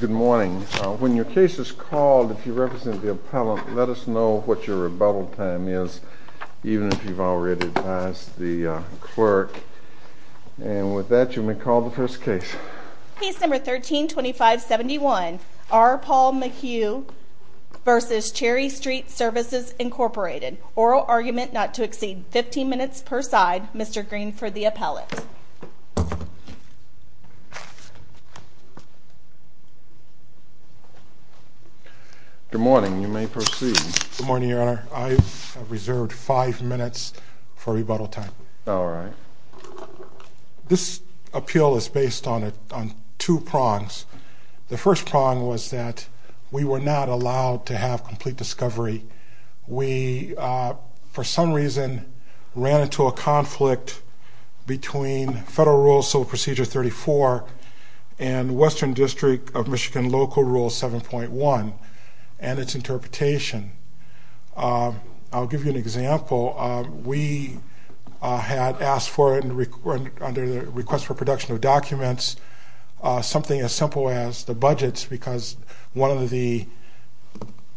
Good morning. When your case is called, if you represent the appellant, let us know what your rebuttal time is, even if you've already advised the clerk. And with that, you may call the first case. Case No. 13-2571, R. Paul Mayhue v. Cherry Street Services, Inc. Oral argument not to exceed 15 minutes per side. Mr. Green for the appellant. Good morning. You may proceed. Good morning, Your Honor. I have reserved five minutes for rebuttal time. All right. This appeal is based on two prongs. The first prong was that we were not allowed to have complete discovery. We, for some reason, ran into a conflict between Federal Rule Civil Procedure 34 and Western District of Michigan Local Rule 7.1 and its interpretation. I'll give you an example. We had asked for, under the request for production of documents, something as simple as the budgets because one of the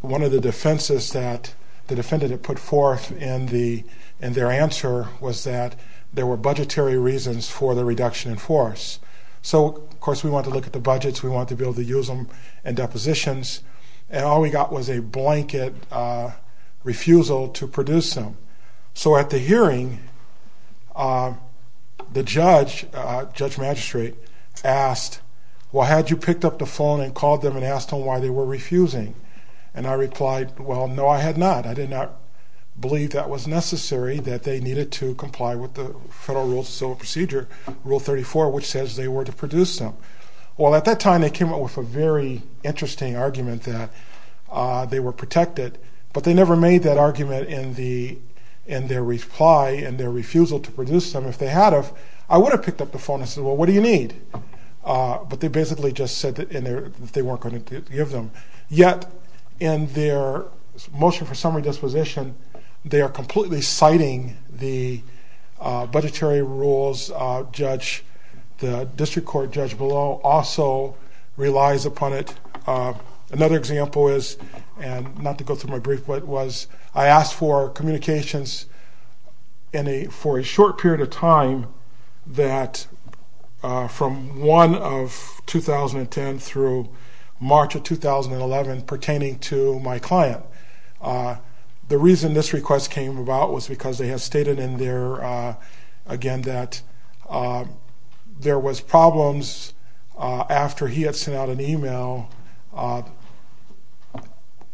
defenses that the defendant had put forth in their answer was that there were budgetary reasons for the reduction in force. So, of course, we wanted to look at the budgets. We wanted to be able to use them in depositions. And all we got was a blanket refusal to produce them. So at the hearing, the judge, Judge Magistrate, asked, well, had you picked up the phone and called them and asked them why they were refusing? And I replied, well, no, I had not. I did not believe that was necessary, that they needed to comply with the Federal Rule Civil Procedure Rule 34, which says they were to produce them. Well, at that time, they came up with a very interesting argument that they were protected, but they never made that argument in their reply and their refusal to produce them. If they had have, I would have picked up the phone and said, well, what do you need? But they basically just said that they weren't going to give them. Yet, in their motion for summary disposition, they are completely citing the budgetary rules. The district court judge below also relies upon it. Another example is, and not to go through my brief, but was I asked for communications for a short period of time that from 1 of 2010 through March of 2011 pertaining to my client. The reason this request came about was because they had stated in there, again, that there was problems after he had sent out an email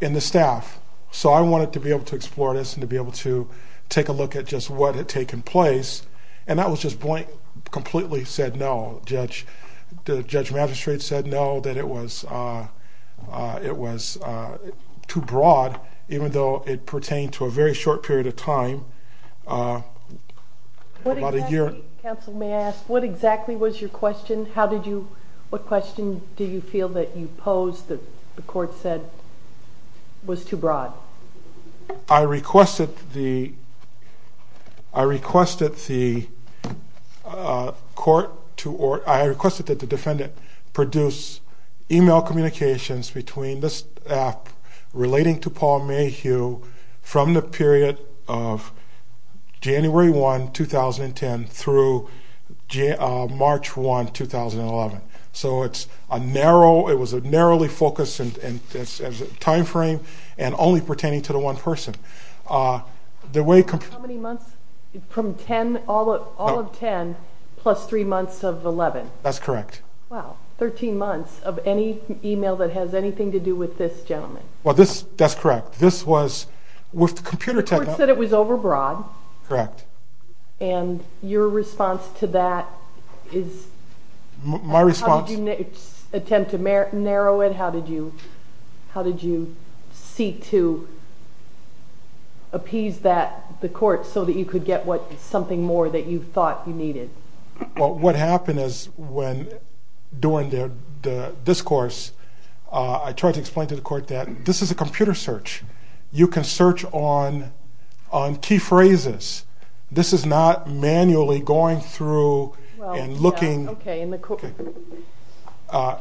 in the staff. So I wanted to be able to explore this and to be able to take a look at just what had taken place. And that was just blank, completely said no. The judge magistrate said no, that it was too broad, even though it pertained to a very short period of time, about a year. Counsel, may I ask, what exactly was your question? What question do you feel that you posed that the court said was too broad? I requested that the defendant produce email communications between the staff relating to Paul Mayhew from the period of January 1, 2010 through March 1, 2011. So it's a narrow, it was a narrowly focused timeframe and only pertaining to the one person. How many months, from 10, all of 10, plus 3 months of 11? That's correct. Wow, 13 months of any email that has anything to do with this gentleman. Well, that's correct. This was, with computer technology. The court said it was overbroad. Correct. And your response to that is? My response? How did you attempt to narrow it? How did you seek to appease the court so that you could get something more that you thought you needed? Well, what happened is, when doing the discourse, I tried to explain to the court that this is a computer search. You can search on key phrases. This is not manually going through and looking.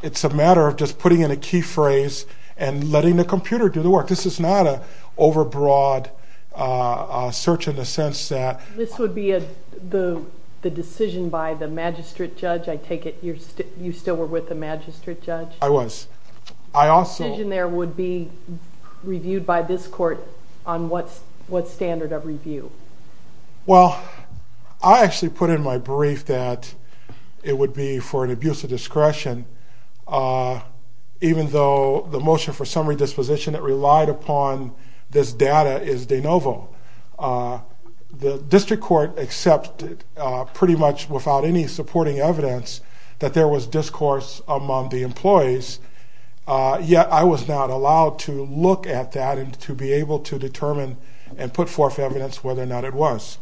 It's a matter of just putting in a key phrase and letting the computer do the work. This is not an overbroad search in the sense that... This would be the decision by the magistrate judge, I take it you still were with the magistrate judge? I was. I also... What did you do? What did you see by this court on what standard of review? Well, I actually put in my brief that it would be for an abuse of discretion, even though the motion for summary disposition that relied upon this data is de novo. The district court accepted, pretty much without any supporting evidence, that there was discourse among the employees. Yet, I was not allowed to look at that and to be able to determine and put forth evidence whether or not it was.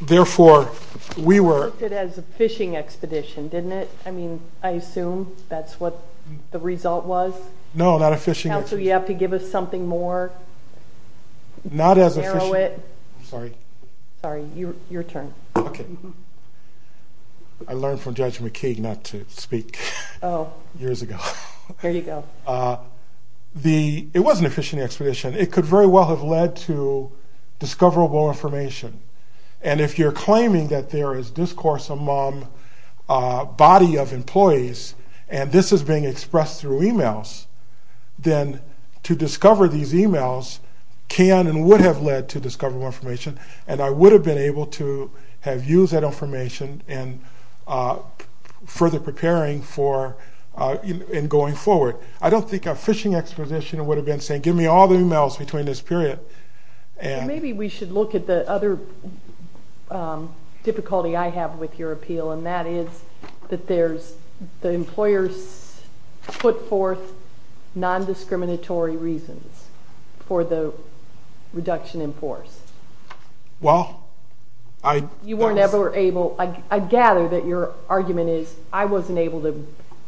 Therefore, we were... You looked at it as a phishing expedition, didn't it? I mean, I assume that's what the result was? No, not a phishing expedition. So you have to give us something more? Not as a phishing... Narrow it. Sorry. Sorry, your turn. Okay. I learned from Judge McKee not to speak years ago. There you go. It wasn't a phishing expedition. It could very well have led to discoverable information. And if you're claiming that there is discourse among a body of employees, and this is being expressed through e-mails, then to discover these e-mails can and would have led to discoverable information, and I would have been able to have used that information in further preparing for and going forward. I don't think a phishing exposition would have been saying, give me all the e-mails between this period. Maybe we should look at the other difficulty I have with your appeal, and that is that there's the employer's put forth non-discriminatory reasons for the reduction in force. Well, I... You were never able... I gather that your argument is, I wasn't able to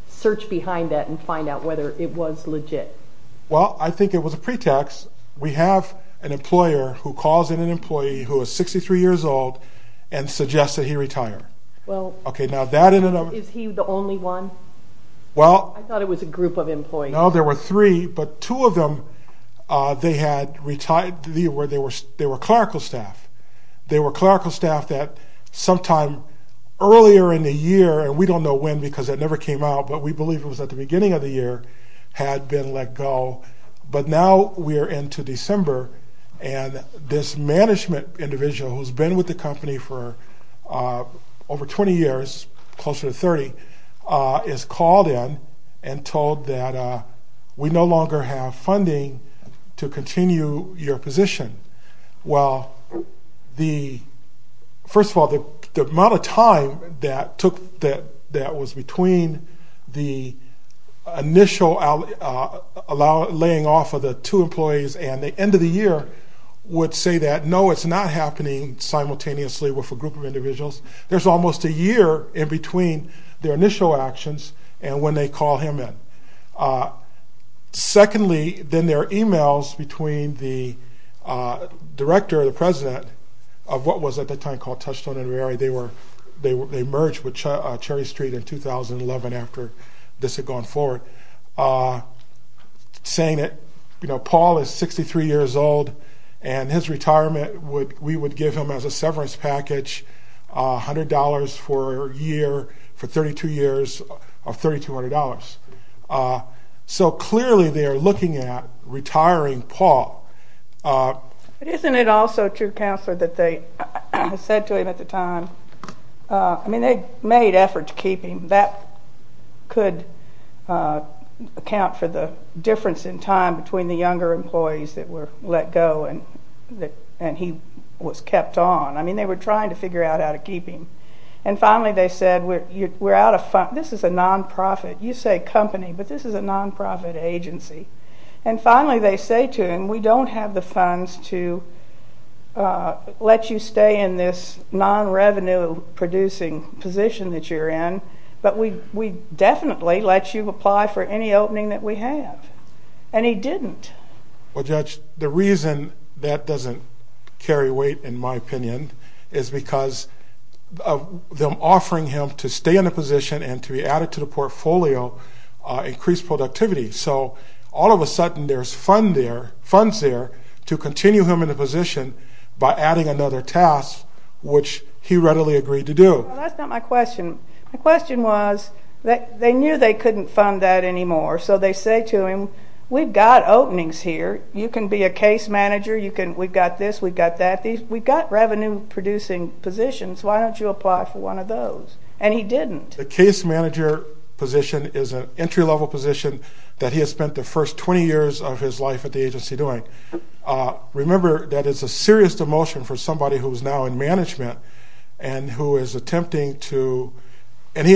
search behind that and find out whether it was legit. Well, I think it was a pretext. We have an employer who calls in an employee who is 63 years old and suggests that he retire. Well... Okay, now that ended up... Is he the only one? Well... I thought it was a group of employees. No, there were three, but two of them, they had retired... they were clerical staff. They were clerical staff that sometime earlier in the year, and we don't know when because that never came out, but we believe it was at the beginning of the year, had been let go. But now we are into December, and this management individual who's been with the company for over 20 years, closer to 30, is called in and told that we no longer have funding to continue your position. Well, the... First of all, the amount of time that was between the initial laying off of the two employees and the end of the year would say that no, it's not happening simultaneously with a group of individuals. There's almost a year in between their initial actions and when they call him in. Secondly, then there are e-mails between the director and the president of what was at the time called Touchstone & Reary. They merged with Cherry Street in 2011 after this had gone forward, saying that, you know, Paul is 63 years old, and his retirement, we would give him as a severance package $100 for a year for 32 years of $3200. So clearly they are looking at retiring Paul. Isn't it also true, Counselor, that they said to him at the time, I mean, they made efforts to keep him. That could account for the difference in time between the younger employees that were let go and he was kept on. I mean, they were trying to figure out how to keep him. And finally they said, we're out of funds. This is a non-profit. You say company, but this is a non-profit agency. And finally they say to him, we don't have the funds to let you stay in this non-revenue producing position that you're in, but we definitely let you apply for any opening that we have. And he didn't. Well, Judge, the reason that doesn't carry weight, in my opinion, is because of them offering him to stay in the position and to be added to the portfolio increased productivity. So all of a sudden there's funds there to continue him in the position by adding another task, which he readily agreed to do. That's not my question. The question was that they knew they couldn't fund that anymore. So they say to him, we've got openings here. You can be a case manager. We've got this, we've got that. We've got revenue producing positions. Why don't you apply for one of those? And he didn't. The case manager position is an entry-level position that he has spent the first 20 years of his life at the agency doing. Remember that it's a serious demotion for somebody who's now in management and who is attempting to... He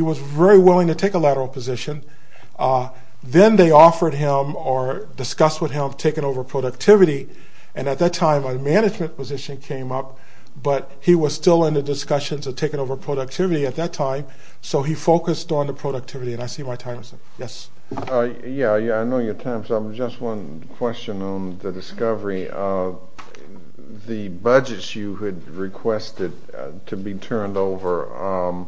was very willing to take a lateral position. Then they offered him or discussed with him taking over productivity, and at that time a management position came up, but he was still in the discussions of taking over productivity at that time, so he focused on the productivity. And I see my time is up. Yes? Yes, I know your time is up. Just one question on the discovery of the budgets you had requested to be turned over.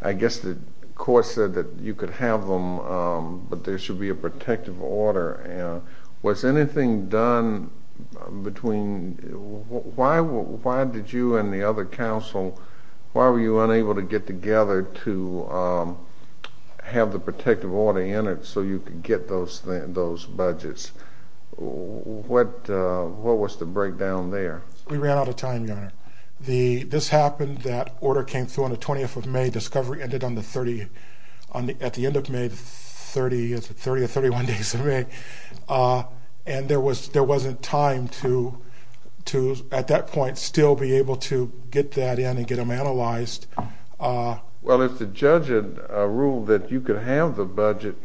I guess the court said that you could have them, but there should be a protective order. Was anything done between... Why did you and the other counsel... Why were you unable to get together to have the protective order entered so you could get those budgets? What was the breakdown there? This happened, that order came through on the 20th of May. Discovery ended at the end of May, 30 or 31 days of May, and there wasn't time to, at that point, still be able to get that in and get them analyzed. Well, if the judge had ruled that you could have the budgets,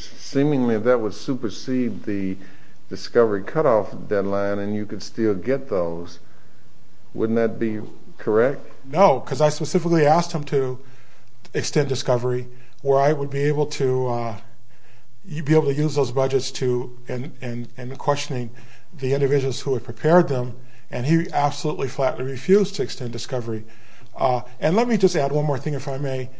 seemingly that would supersede the discovery cutoff deadline and you could still get those, wouldn't that be correct? No, because I specifically asked him to extend discovery, where I would be able to use those budgets in questioning the individuals who had prepared them, and he absolutely flatly refused to extend discovery. And let me just add one more thing, if I may.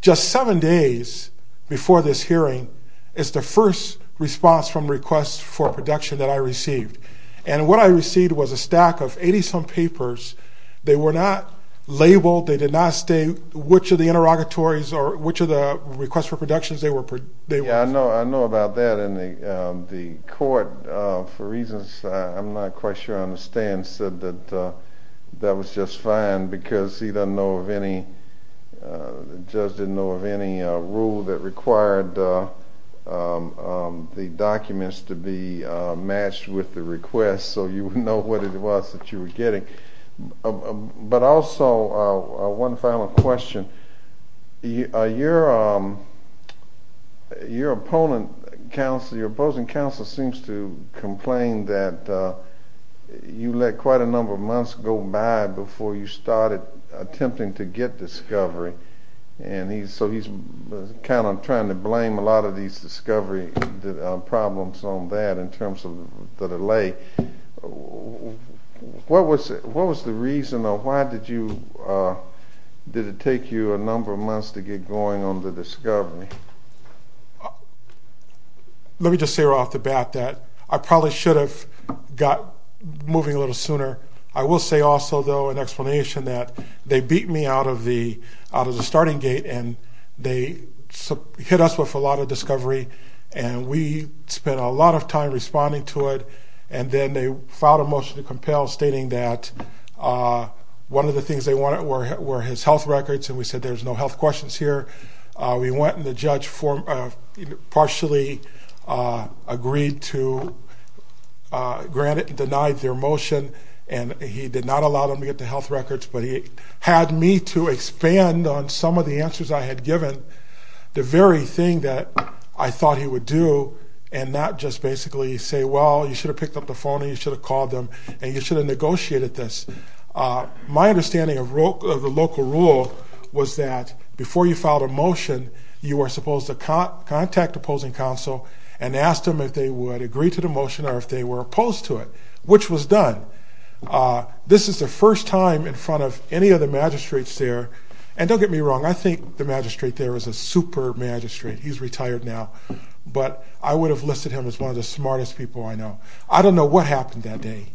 Just seven days before this hearing is the first response from requests for production that I received, and what I received was a stack of 80-some papers. They were not labeled. They did not state which of the interrogatories or which of the requests for productions they were... Yeah, I know about that, and the court, for reasons I'm not quite sure I understand, said that that was just fine because he doesn't know of any, the judge didn't know of any rule that required the documents to be matched with the request, so you would know what it was that you were getting. But also, one final question. Your opposing counsel seems to complain that you let quite a number of months go by before you started attempting to get discovery, and so he's kind of trying to blame a lot of these discovery problems on that in terms of the delay. What was the reason, or why did it take you a number of months to get going on the discovery? Let me just say right off the bat that I probably should have got moving a little sooner. I will say also, though, an explanation that they beat me out of the starting gate, and they hit us with a lot of discovery, and we spent a lot of time responding to it, and then they filed a motion to compel stating that one of the things they wanted were his health records, and we said there's no health questions here. We went and the judge partially agreed to grant it and denied their motion, and he did not allow them to get the health records, but he had me to expand on some of the answers I had given, the very thing that I thought he would do and not just basically say, well, you should have picked up the phone and you should have called them and you should have negotiated this. My understanding of the local rule was that before you filed a motion, you were supposed to contact opposing counsel and ask them if they would agree to the motion or if they were opposed to it, which was done. This is the first time in front of any of the magistrates there, and don't get me wrong, I think the magistrate there is a super magistrate. He's retired now, but I would have listed him as one of the smartest people I know. I don't know what happened that day.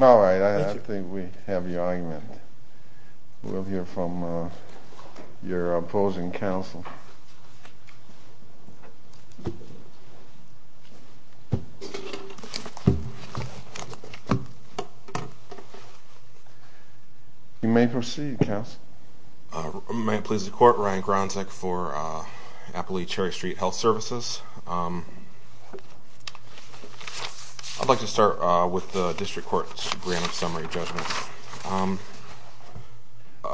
All right. I think we have your argument. We'll hear from your opposing counsel. You may proceed, counsel. May it please the Court, Ryan Gronzek for Appalachia Cherry Street Health Services. I'd like to start with the district court's grand summary judgment.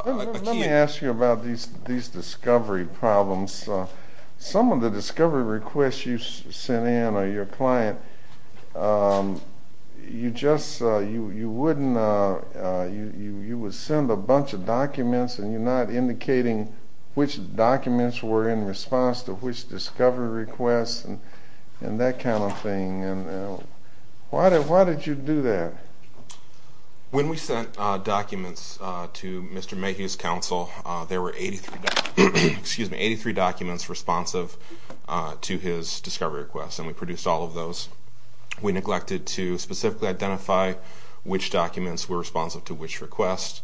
Let me ask you about these discovery problems. Some of the discovery requests you sent in or your client, you would send a bunch of documents and you're not indicating which documents were in response to which discovery requests and that kind of thing. Why did you do that? When we sent documents to Mr. Mayhew's counsel, there were 83 documents responsive to his discovery requests, and we produced all of those. We neglected to specifically identify which documents were responsive to which request.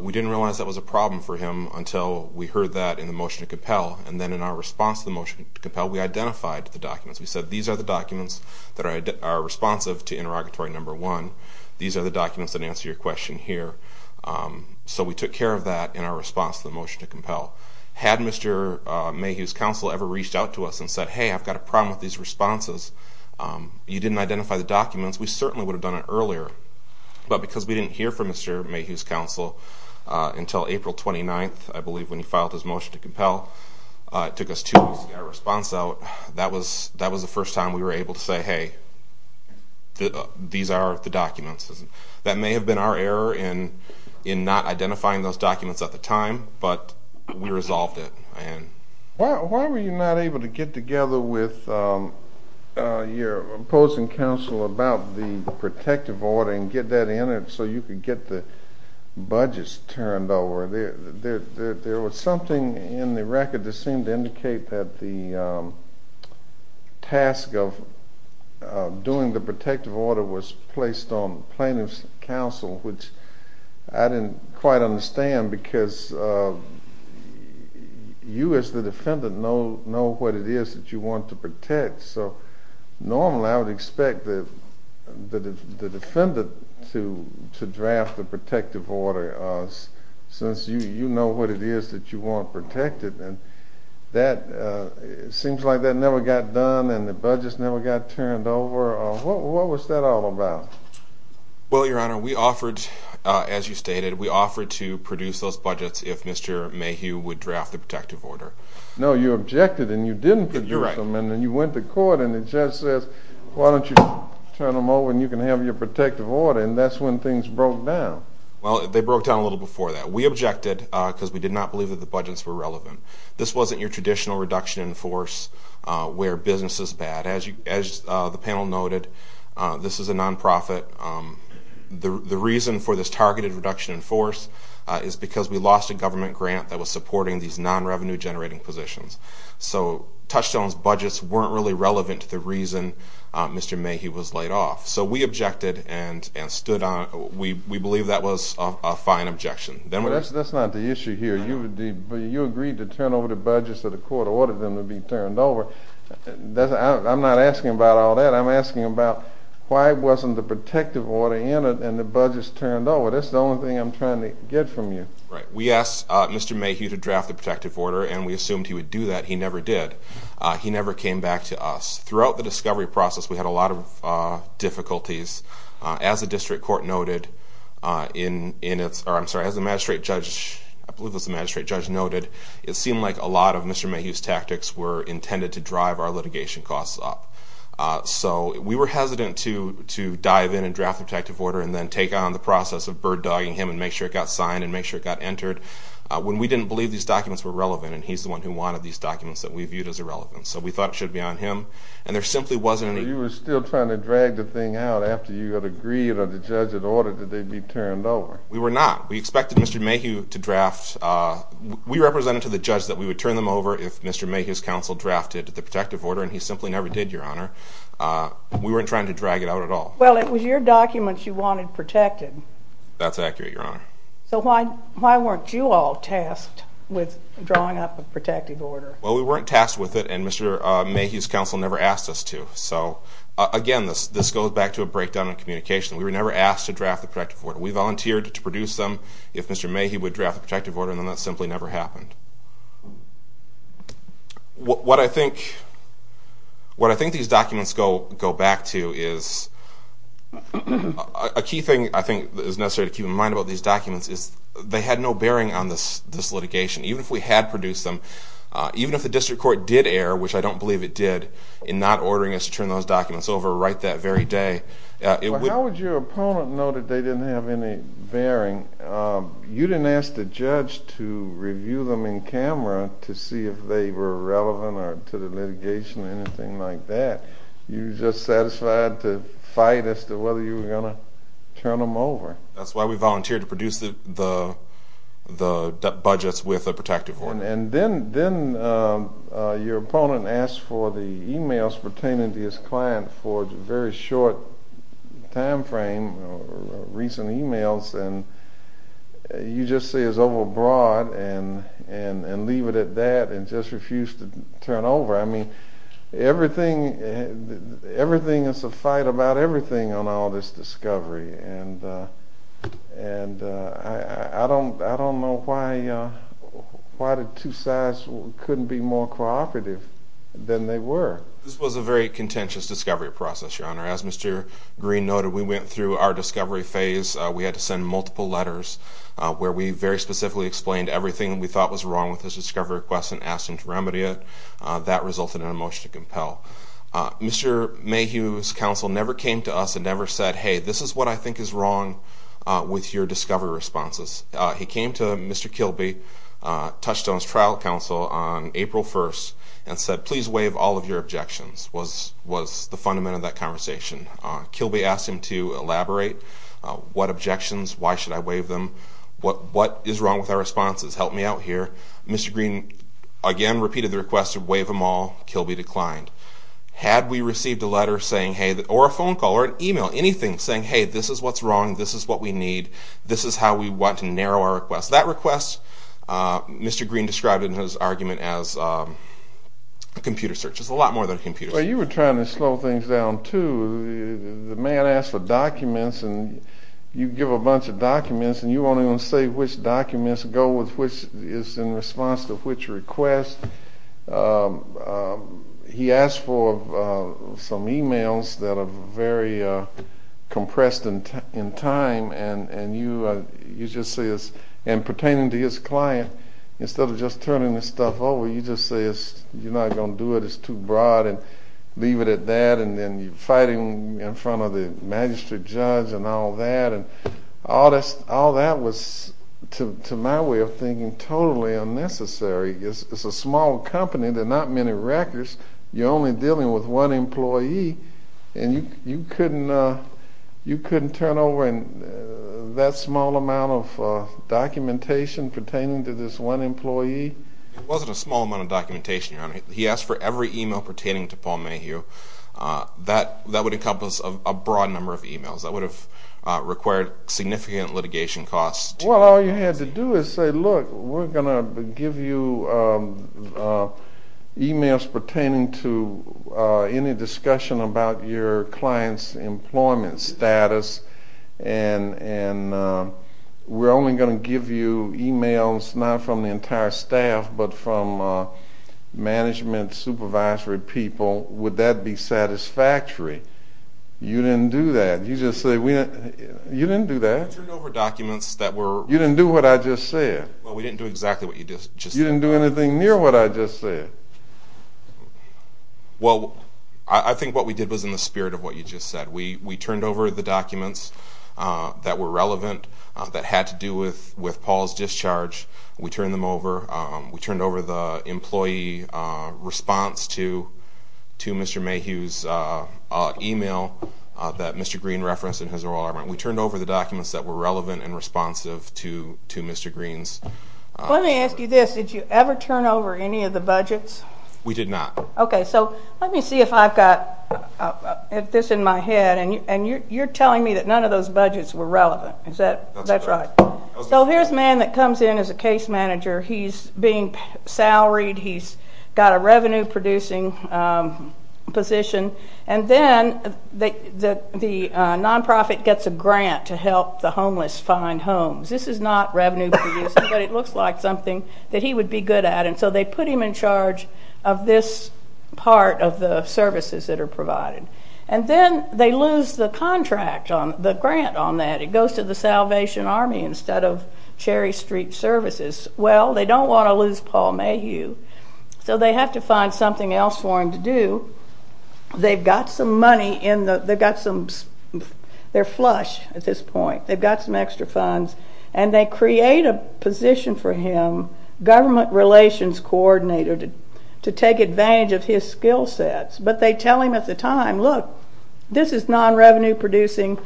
We didn't realize that was a problem for him until we heard that in the motion to compel, and then in our response to the motion to compel, we identified the documents. We said, these are the documents that are responsive to interrogatory number one. These are the documents that answer your question here. So we took care of that in our response to the motion to compel. Had Mr. Mayhew's counsel ever reached out to us and said, hey, I've got a problem with these responses, you didn't identify the documents, we certainly would have done it earlier. But because we didn't hear from Mr. Mayhew's counsel until April 29th, I believe, when he filed his motion to compel, it took us two weeks to get a response out. So that was the first time we were able to say, hey, these are the documents. That may have been our error in not identifying those documents at the time, but we resolved it. Why were you not able to get together with your opposing counsel about the protective order and get that in it so you could get the budgets turned over? There was something in the record that seemed to indicate that the task of doing the protective order was placed on plaintiff's counsel, which I didn't quite understand, because you as the defendant know what it is that you want to protect. So normally I would expect the defendant to draft the protective order, since you know what it is that you want protected. And it seems like that never got done and the budgets never got turned over. What was that all about? Well, Your Honor, we offered, as you stated, we offered to produce those budgets if Mr. Mayhew would draft the protective order. No, you objected and you didn't produce them. And then you went to court and the judge says, why don't you turn them over and you can have your protective order, and that's when things broke down. Well, they broke down a little before that. We objected because we did not believe that the budgets were relevant. This wasn't your traditional reduction in force where business is bad. As the panel noted, this is a nonprofit. The reason for this targeted reduction in force is because we lost a government grant that was supporting these non-revenue generating positions. So Touchstone's budgets weren't really relevant to the reason Mr. Mayhew was laid off. So we objected and stood on it. We believe that was a fine objection. That's not the issue here. You agreed to turn over the budgets to the court, ordered them to be turned over. I'm not asking about all that. I'm asking about why wasn't the protective order in it and the budgets turned over. That's the only thing I'm trying to get from you. Right. We asked Mr. Mayhew to draft the protective order, and we assumed he would do that. He never did. He never came back to us. Throughout the discovery process, we had a lot of difficulties. As the district court noted in its, or I'm sorry, as the magistrate judge, I believe it was the magistrate judge noted, it seemed like a lot of Mr. Mayhew's tactics were intended to drive our litigation costs up. So we were hesitant to dive in and draft the protective order and then take on the process of bird-dogging him and make sure it got signed and make sure it got entered when we didn't believe these documents were relevant and he's the one who wanted these documents that we viewed as irrelevant. So we thought it should be on him, and there simply wasn't any. You were still trying to drag the thing out after you had agreed or the judge had ordered that they be turned over. We were not. We expected Mr. Mayhew to draft. We represented to the judge that we would turn them over if Mr. Mayhew's counsel drafted the protective order, and he simply never did, Your Honor. We weren't trying to drag it out at all. Well, it was your documents you wanted protected. That's accurate, Your Honor. So why weren't you all tasked with drawing up a protective order? Well, we weren't tasked with it, and Mr. Mayhew's counsel never asked us to. So, again, this goes back to a breakdown in communication. We were never asked to draft the protective order. We volunteered to produce them if Mr. Mayhew would draft the protective order, and then that simply never happened. What I think these documents go back to is a key thing I think is necessary to keep in mind about these documents is they had no bearing on this litigation, even if we had produced them, even if the district court did err, which I don't believe it did, in not ordering us to turn those documents over right that very day. How would your opponent know that they didn't have any bearing? You didn't ask the judge to review them in camera to see if they were relevant to the litigation or anything like that. You were just satisfied to fight as to whether you were going to turn them over. That's why we volunteered to produce the budgets with a protective order. And then your opponent asked for the e-mails pertaining to his client for a very short time frame, recent e-mails, and you just say it's overbroad and leave it at that and just refuse to turn over. I mean, everything is a fight about everything on all this discovery, and I don't know why the two sides couldn't be more cooperative than they were. This was a very contentious discovery process, Your Honor. As Mr. Green noted, we went through our discovery phase. We had to send multiple letters where we very specifically explained everything we thought was wrong with this discovery request and asked them to remedy it. That resulted in a motion to compel. Mr. Mayhew's counsel never came to us and never said, hey, this is what I think is wrong with your discovery responses. He came to Mr. Kilby, touched on his trial counsel on April 1st, and said, please waive all of your objections was the fundament of that conversation. Kilby asked him to elaborate what objections, why should I waive them, what is wrong with our responses, help me out here. Mr. Green again repeated the request to waive them all. Kilby declined. Had we received a letter saying, hey, or a phone call or an email, anything saying, hey, this is what's wrong, this is what we need, this is how we want to narrow our request, that request Mr. Green described in his argument as a computer search. It's a lot more than a computer search. Well, you were trying to slow things down, too. The man asked for documents, and you give a bunch of documents, and you're only going to say which documents go with which is in response to which request. He asked for some emails that are very compressed in time, and you just say, and pertaining to his client, instead of just turning this stuff over, you just say, you're not going to do it, it's too broad, and leave it at that, and then you fight him in front of the magistrate judge and all that. All that was, to my way of thinking, totally unnecessary. It's a small company, there are not many records, you're only dealing with one employee, and you couldn't turn over that small amount of documentation pertaining to this one employee? It wasn't a small amount of documentation, Your Honor. He asked for every email pertaining to Paul Mayhew. That would encompass a broad number of emails. That would have required significant litigation costs. Well, all you had to do is say, look, we're going to give you emails pertaining to any discussion about your client's employment status, and we're only going to give you emails, not from the entire staff, but from management, supervisory people. Would that be satisfactory? You didn't do that. You just said, you didn't do that. We turned over documents that were... You didn't do what I just said. Well, we didn't do exactly what you just said. You didn't do anything near what I just said. Well, I think what we did was in the spirit of what you just said. We turned over the documents that were relevant, that had to do with Paul's discharge. We turned them over. We turned over the employee response to Mr. Mayhew's email that Mr. Green referenced in his oral argument. We turned over the documents that were relevant and responsive to Mr. Green's... Let me ask you this. Did you ever turn over any of the budgets? We did not. Okay, so let me see if I've got this in my head. And you're telling me that none of those budgets were relevant. Is that right? That's correct. So here's a man that comes in as a case manager. He's being salaried. He's got a revenue-producing position. And then the nonprofit gets a grant to help the homeless find homes. This is not revenue-producing, but it looks like something that he would be good at. And so they put him in charge of this part of the services that are provided. And then they lose the contract, the grant on that. It goes to the Salvation Army instead of Cherry Street Services. Well, they don't want to lose Paul Mayhew, so they have to find something else for him to do. They've got some money in the... They're flush at this point. They've got some extra funds. And they create a position for him, government relations coordinator, to take advantage of his skill sets. But they tell him at the time, look, this is non-revenue-producing.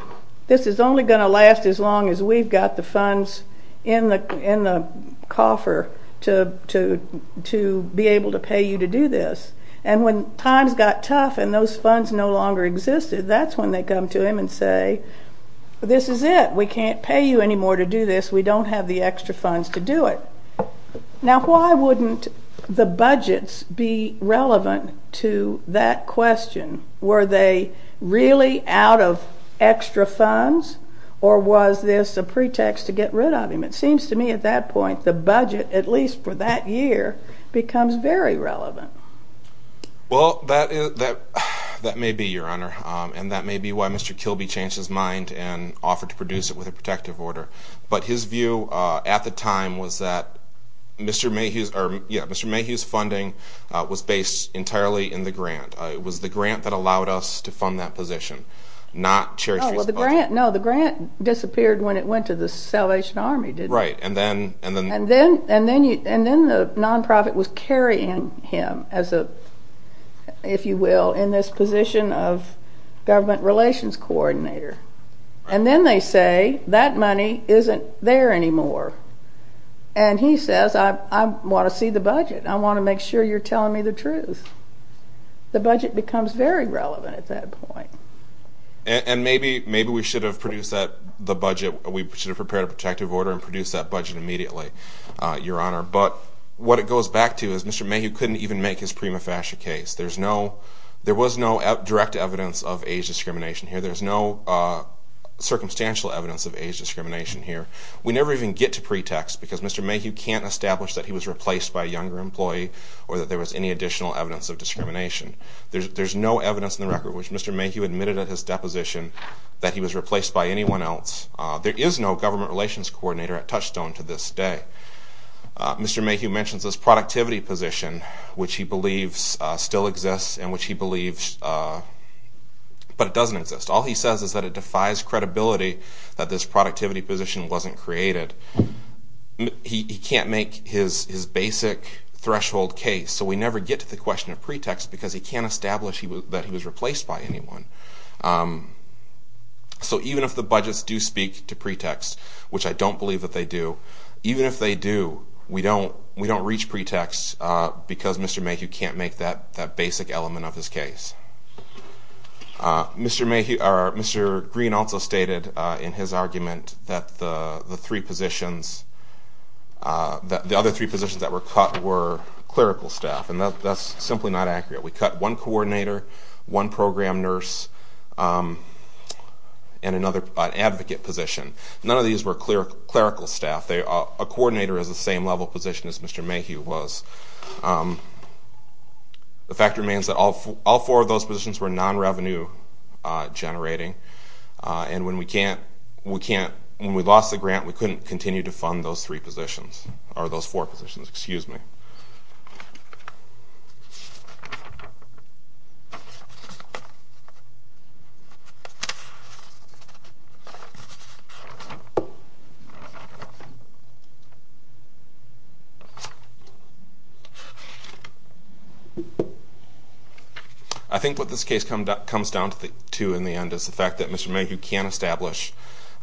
This is only going to last as long as we've got the funds in the coffer to be able to pay you to do this. And when times got tough and those funds no longer existed, that's when they come to him and say, this is it. We can't pay you anymore to do this. We don't have the extra funds to do it. Now, why wouldn't the budgets be relevant to that question? Were they really out of extra funds, or was this a pretext to get rid of him? It seems to me at that point the budget, at least for that year, becomes very relevant. Well, that may be, Your Honor. And that may be why Mr. Kilby changed his mind and offered to produce it with a protective order. But his view at the time was that Mr. Mayhew's funding was based entirely in the grant. It was the grant that allowed us to fund that position, not Cherry Street's budget. No, the grant disappeared when it went to the Salvation Army, didn't it? Right. And then the nonprofit was carrying him, if you will, in this position of government relations coordinator. And then they say, that money isn't there anymore. And he says, I want to see the budget. I want to make sure you're telling me the truth. The budget becomes very relevant at that point. And maybe we should have prepared a protective order and produced that budget immediately, Your Honor. But what it goes back to is Mr. Mayhew couldn't even make his prima facie case. There was no direct evidence of age discrimination here. There's no circumstantial evidence of age discrimination here. We never even get to pretext, because Mr. Mayhew can't establish that he was replaced by a younger employee or that there was any additional evidence of discrimination. There's no evidence in the record which Mr. Mayhew admitted at his deposition that he was replaced by anyone else. There is no government relations coordinator at Touchstone to this day. Mr. Mayhew mentions this productivity position, which he believes still exists, but it doesn't exist. All he says is that it defies credibility that this productivity position wasn't created. He can't make his basic threshold case, so we never get to the question of pretext, because he can't establish that he was replaced by anyone. So even if the budgets do speak to pretext, which I don't believe that they do, even if they do, we don't reach pretext because Mr. Mayhew can't make that basic element of his case. Mr. Green also stated in his argument that the other three positions that were cut were clerical staff, and that's simply not accurate. We cut one coordinator, one program nurse, and an advocate position. None of these were clerical staff. A coordinator is the same level position as Mr. Mayhew was. The fact remains that all four of those positions were non-revenue generating, and when we lost the grant, we couldn't continue to fund those four positions. I think what this case comes down to in the end is the fact that Mr. Mayhew can't establish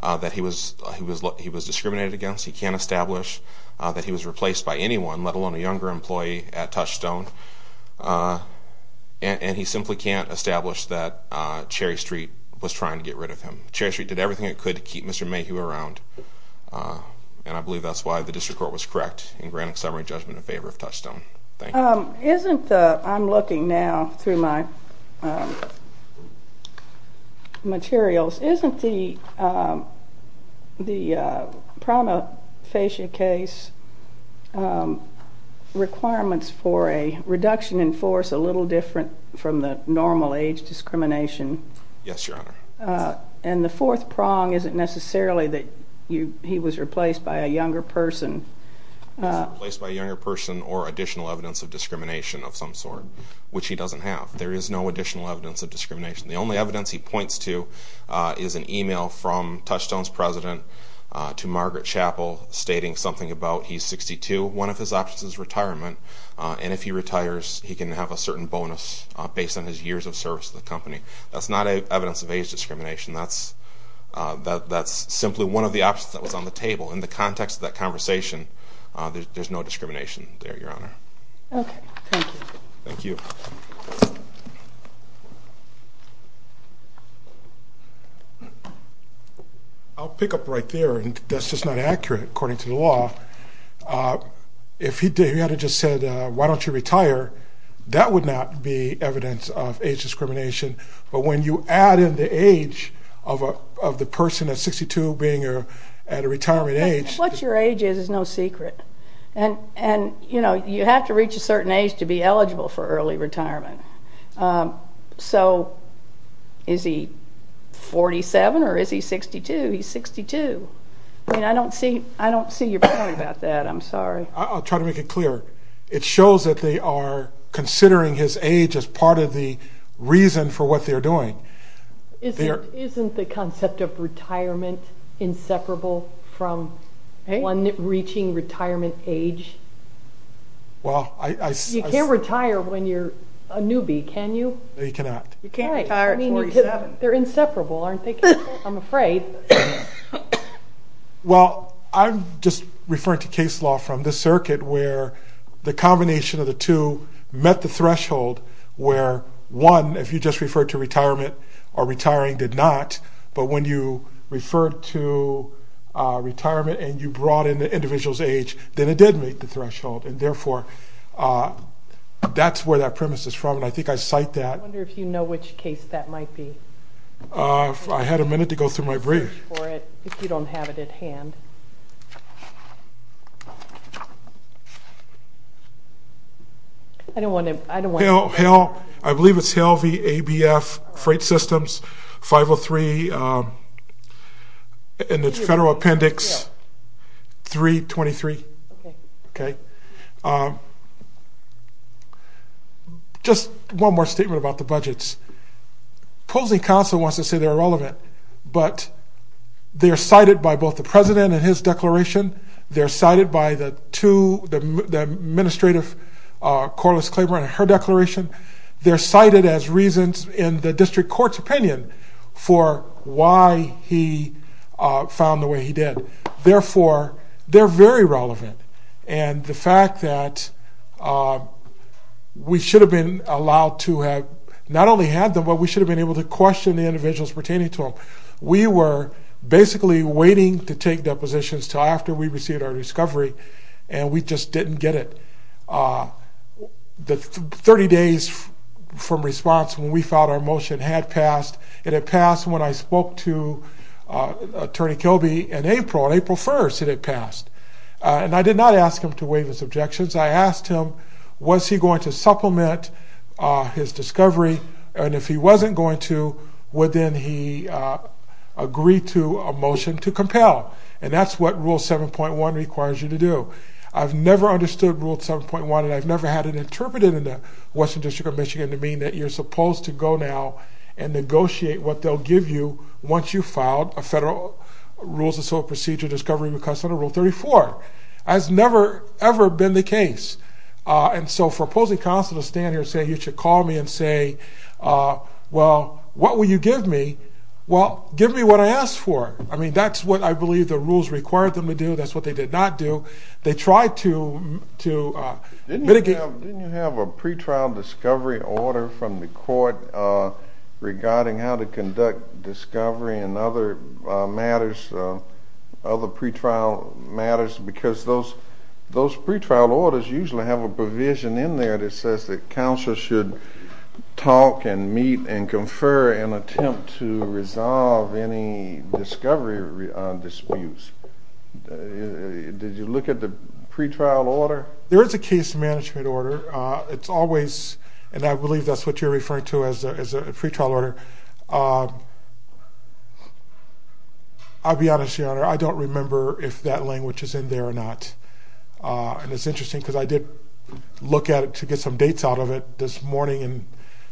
that he was discriminated against. He can't establish that he was replaced by anyone, let alone a younger employee at Touchstone, and he simply can't establish that Cherry Street was trying to get rid of him. Cherry Street did everything it could to keep Mr. Mayhew around, and I believe that's why the district court was correct in granting summary judgment in favor of Touchstone. Thank you. I'm looking now through my materials. Isn't the prima facie case requirements for a reduction in force a little different from the normal age discrimination? Yes, Your Honor. And the fourth prong isn't necessarily that he was replaced by a younger person. He wasn't replaced by a younger person or additional evidence of discrimination of some sort, which he doesn't have. There is no additional evidence of discrimination. The only evidence he points to is an email from Touchstone's president to Margaret Chappell stating something about he's 62. One of his options is retirement, and if he retires, he can have a certain bonus based on his years of service to the company. That's not evidence of age discrimination. That's simply one of the options that was on the table. In the context of that conversation, there's no discrimination there, Your Honor. Okay. Thank you. Thank you. I'll pick up right there, and that's just not accurate according to the law. If he had just said, why don't you retire, that would not be evidence of age discrimination. But when you add in the age of the person at 62 being at a retirement age... What your age is is no secret. And, you know, you have to reach a certain age to be eligible for early retirement. So is he 47 or is he 62? He's 62. I don't see your point about that. I'm sorry. I'll try to make it clear. It shows that they are considering his age as part of the reason for what they're doing. Isn't the concept of retirement inseparable from one reaching retirement age? Well, I... You can't retire when you're a newbie, can you? No, you cannot. You can't retire at 47. They're inseparable, aren't they? I'm afraid. Well, I'm just referring to case law from the circuit where the combination of the two met the threshold where, one, if you just referred to retirement or retiring did not, but when you referred to retirement and you brought in the individual's age, then it did meet the threshold. And, therefore, that's where that premise is from, and I think I cite that. I wonder if you know which case that might be. I had a minute to go through my brief. Search for it if you don't have it at hand. I don't want to... I believe it's Hale v. ABF Freight Systems, 503 in the federal appendix 323. Okay. Okay. Okay. Just one more statement about the budgets. Policing counsel wants to say they're relevant, but they're cited by both the president and his declaration. They're cited by the two, the administrative Corliss-Claiborne and her declaration. They're cited as reasons in the district court's opinion for why he found the way he did. Therefore, they're very relevant. And the fact that we should have been allowed to have not only had them, but we should have been able to question the individuals pertaining to them. We were basically waiting to take depositions until after we received our discovery, and we just didn't get it. The 30 days from response when we filed our motion had passed. It had passed when I spoke to Attorney Kilby in April. On April 1st, it had passed. And I did not ask him to waive his objections. I asked him, was he going to supplement his discovery? And if he wasn't going to, would then he agree to a motion to compel? And that's what Rule 7.1 requires you to do. I've never understood Rule 7.1, and I've never had it interpreted in the Western District of Michigan to mean that you're supposed to go now and negotiate what they'll give you once you've filed a Federal Rules of Soil Procedure Discovery Request under Rule 34. That's never, ever been the case. And so for opposing counsel to stand here and say you should call me and say, well, what will you give me? Well, give me what I asked for. I mean, that's what I believe the rules required them to do. That's what they did not do. They tried to mitigate. Didn't you have a pre-trial discovery order from the court regarding how to conduct discovery and other matters, other pre-trial matters, because those pre-trial orders usually have a provision in there that says that counsel should talk and meet and confer and attempt to resolve any discovery disputes. Did you look at the pre-trial order? There is a case management order. It's always, and I believe that's what you're referring to as a pre-trial order. I'll be honest, Your Honor, I don't remember if that language is in there or not. And it's interesting because I did look at it to get some dates out of it this morning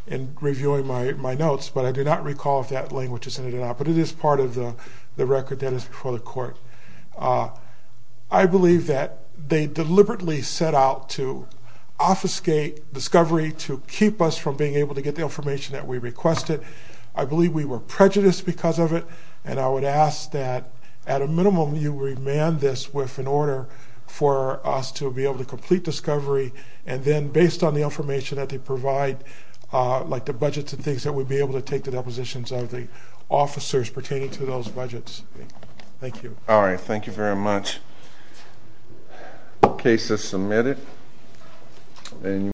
in reviewing my notes, but I do not recall if that language is in it or not. But it is part of the record that is before the court. I believe that they deliberately set out to obfuscate discovery to keep us from being able to get the information that we requested. I believe we were prejudiced because of it, and I would ask that, at a minimum, you remand this with an order for us to be able to complete discovery, and then, based on the information that they provide, like the budgets and things, that we be able to take the depositions of the officers pertaining to those budgets. Thank you. All right. Thank you very much. The case is submitted.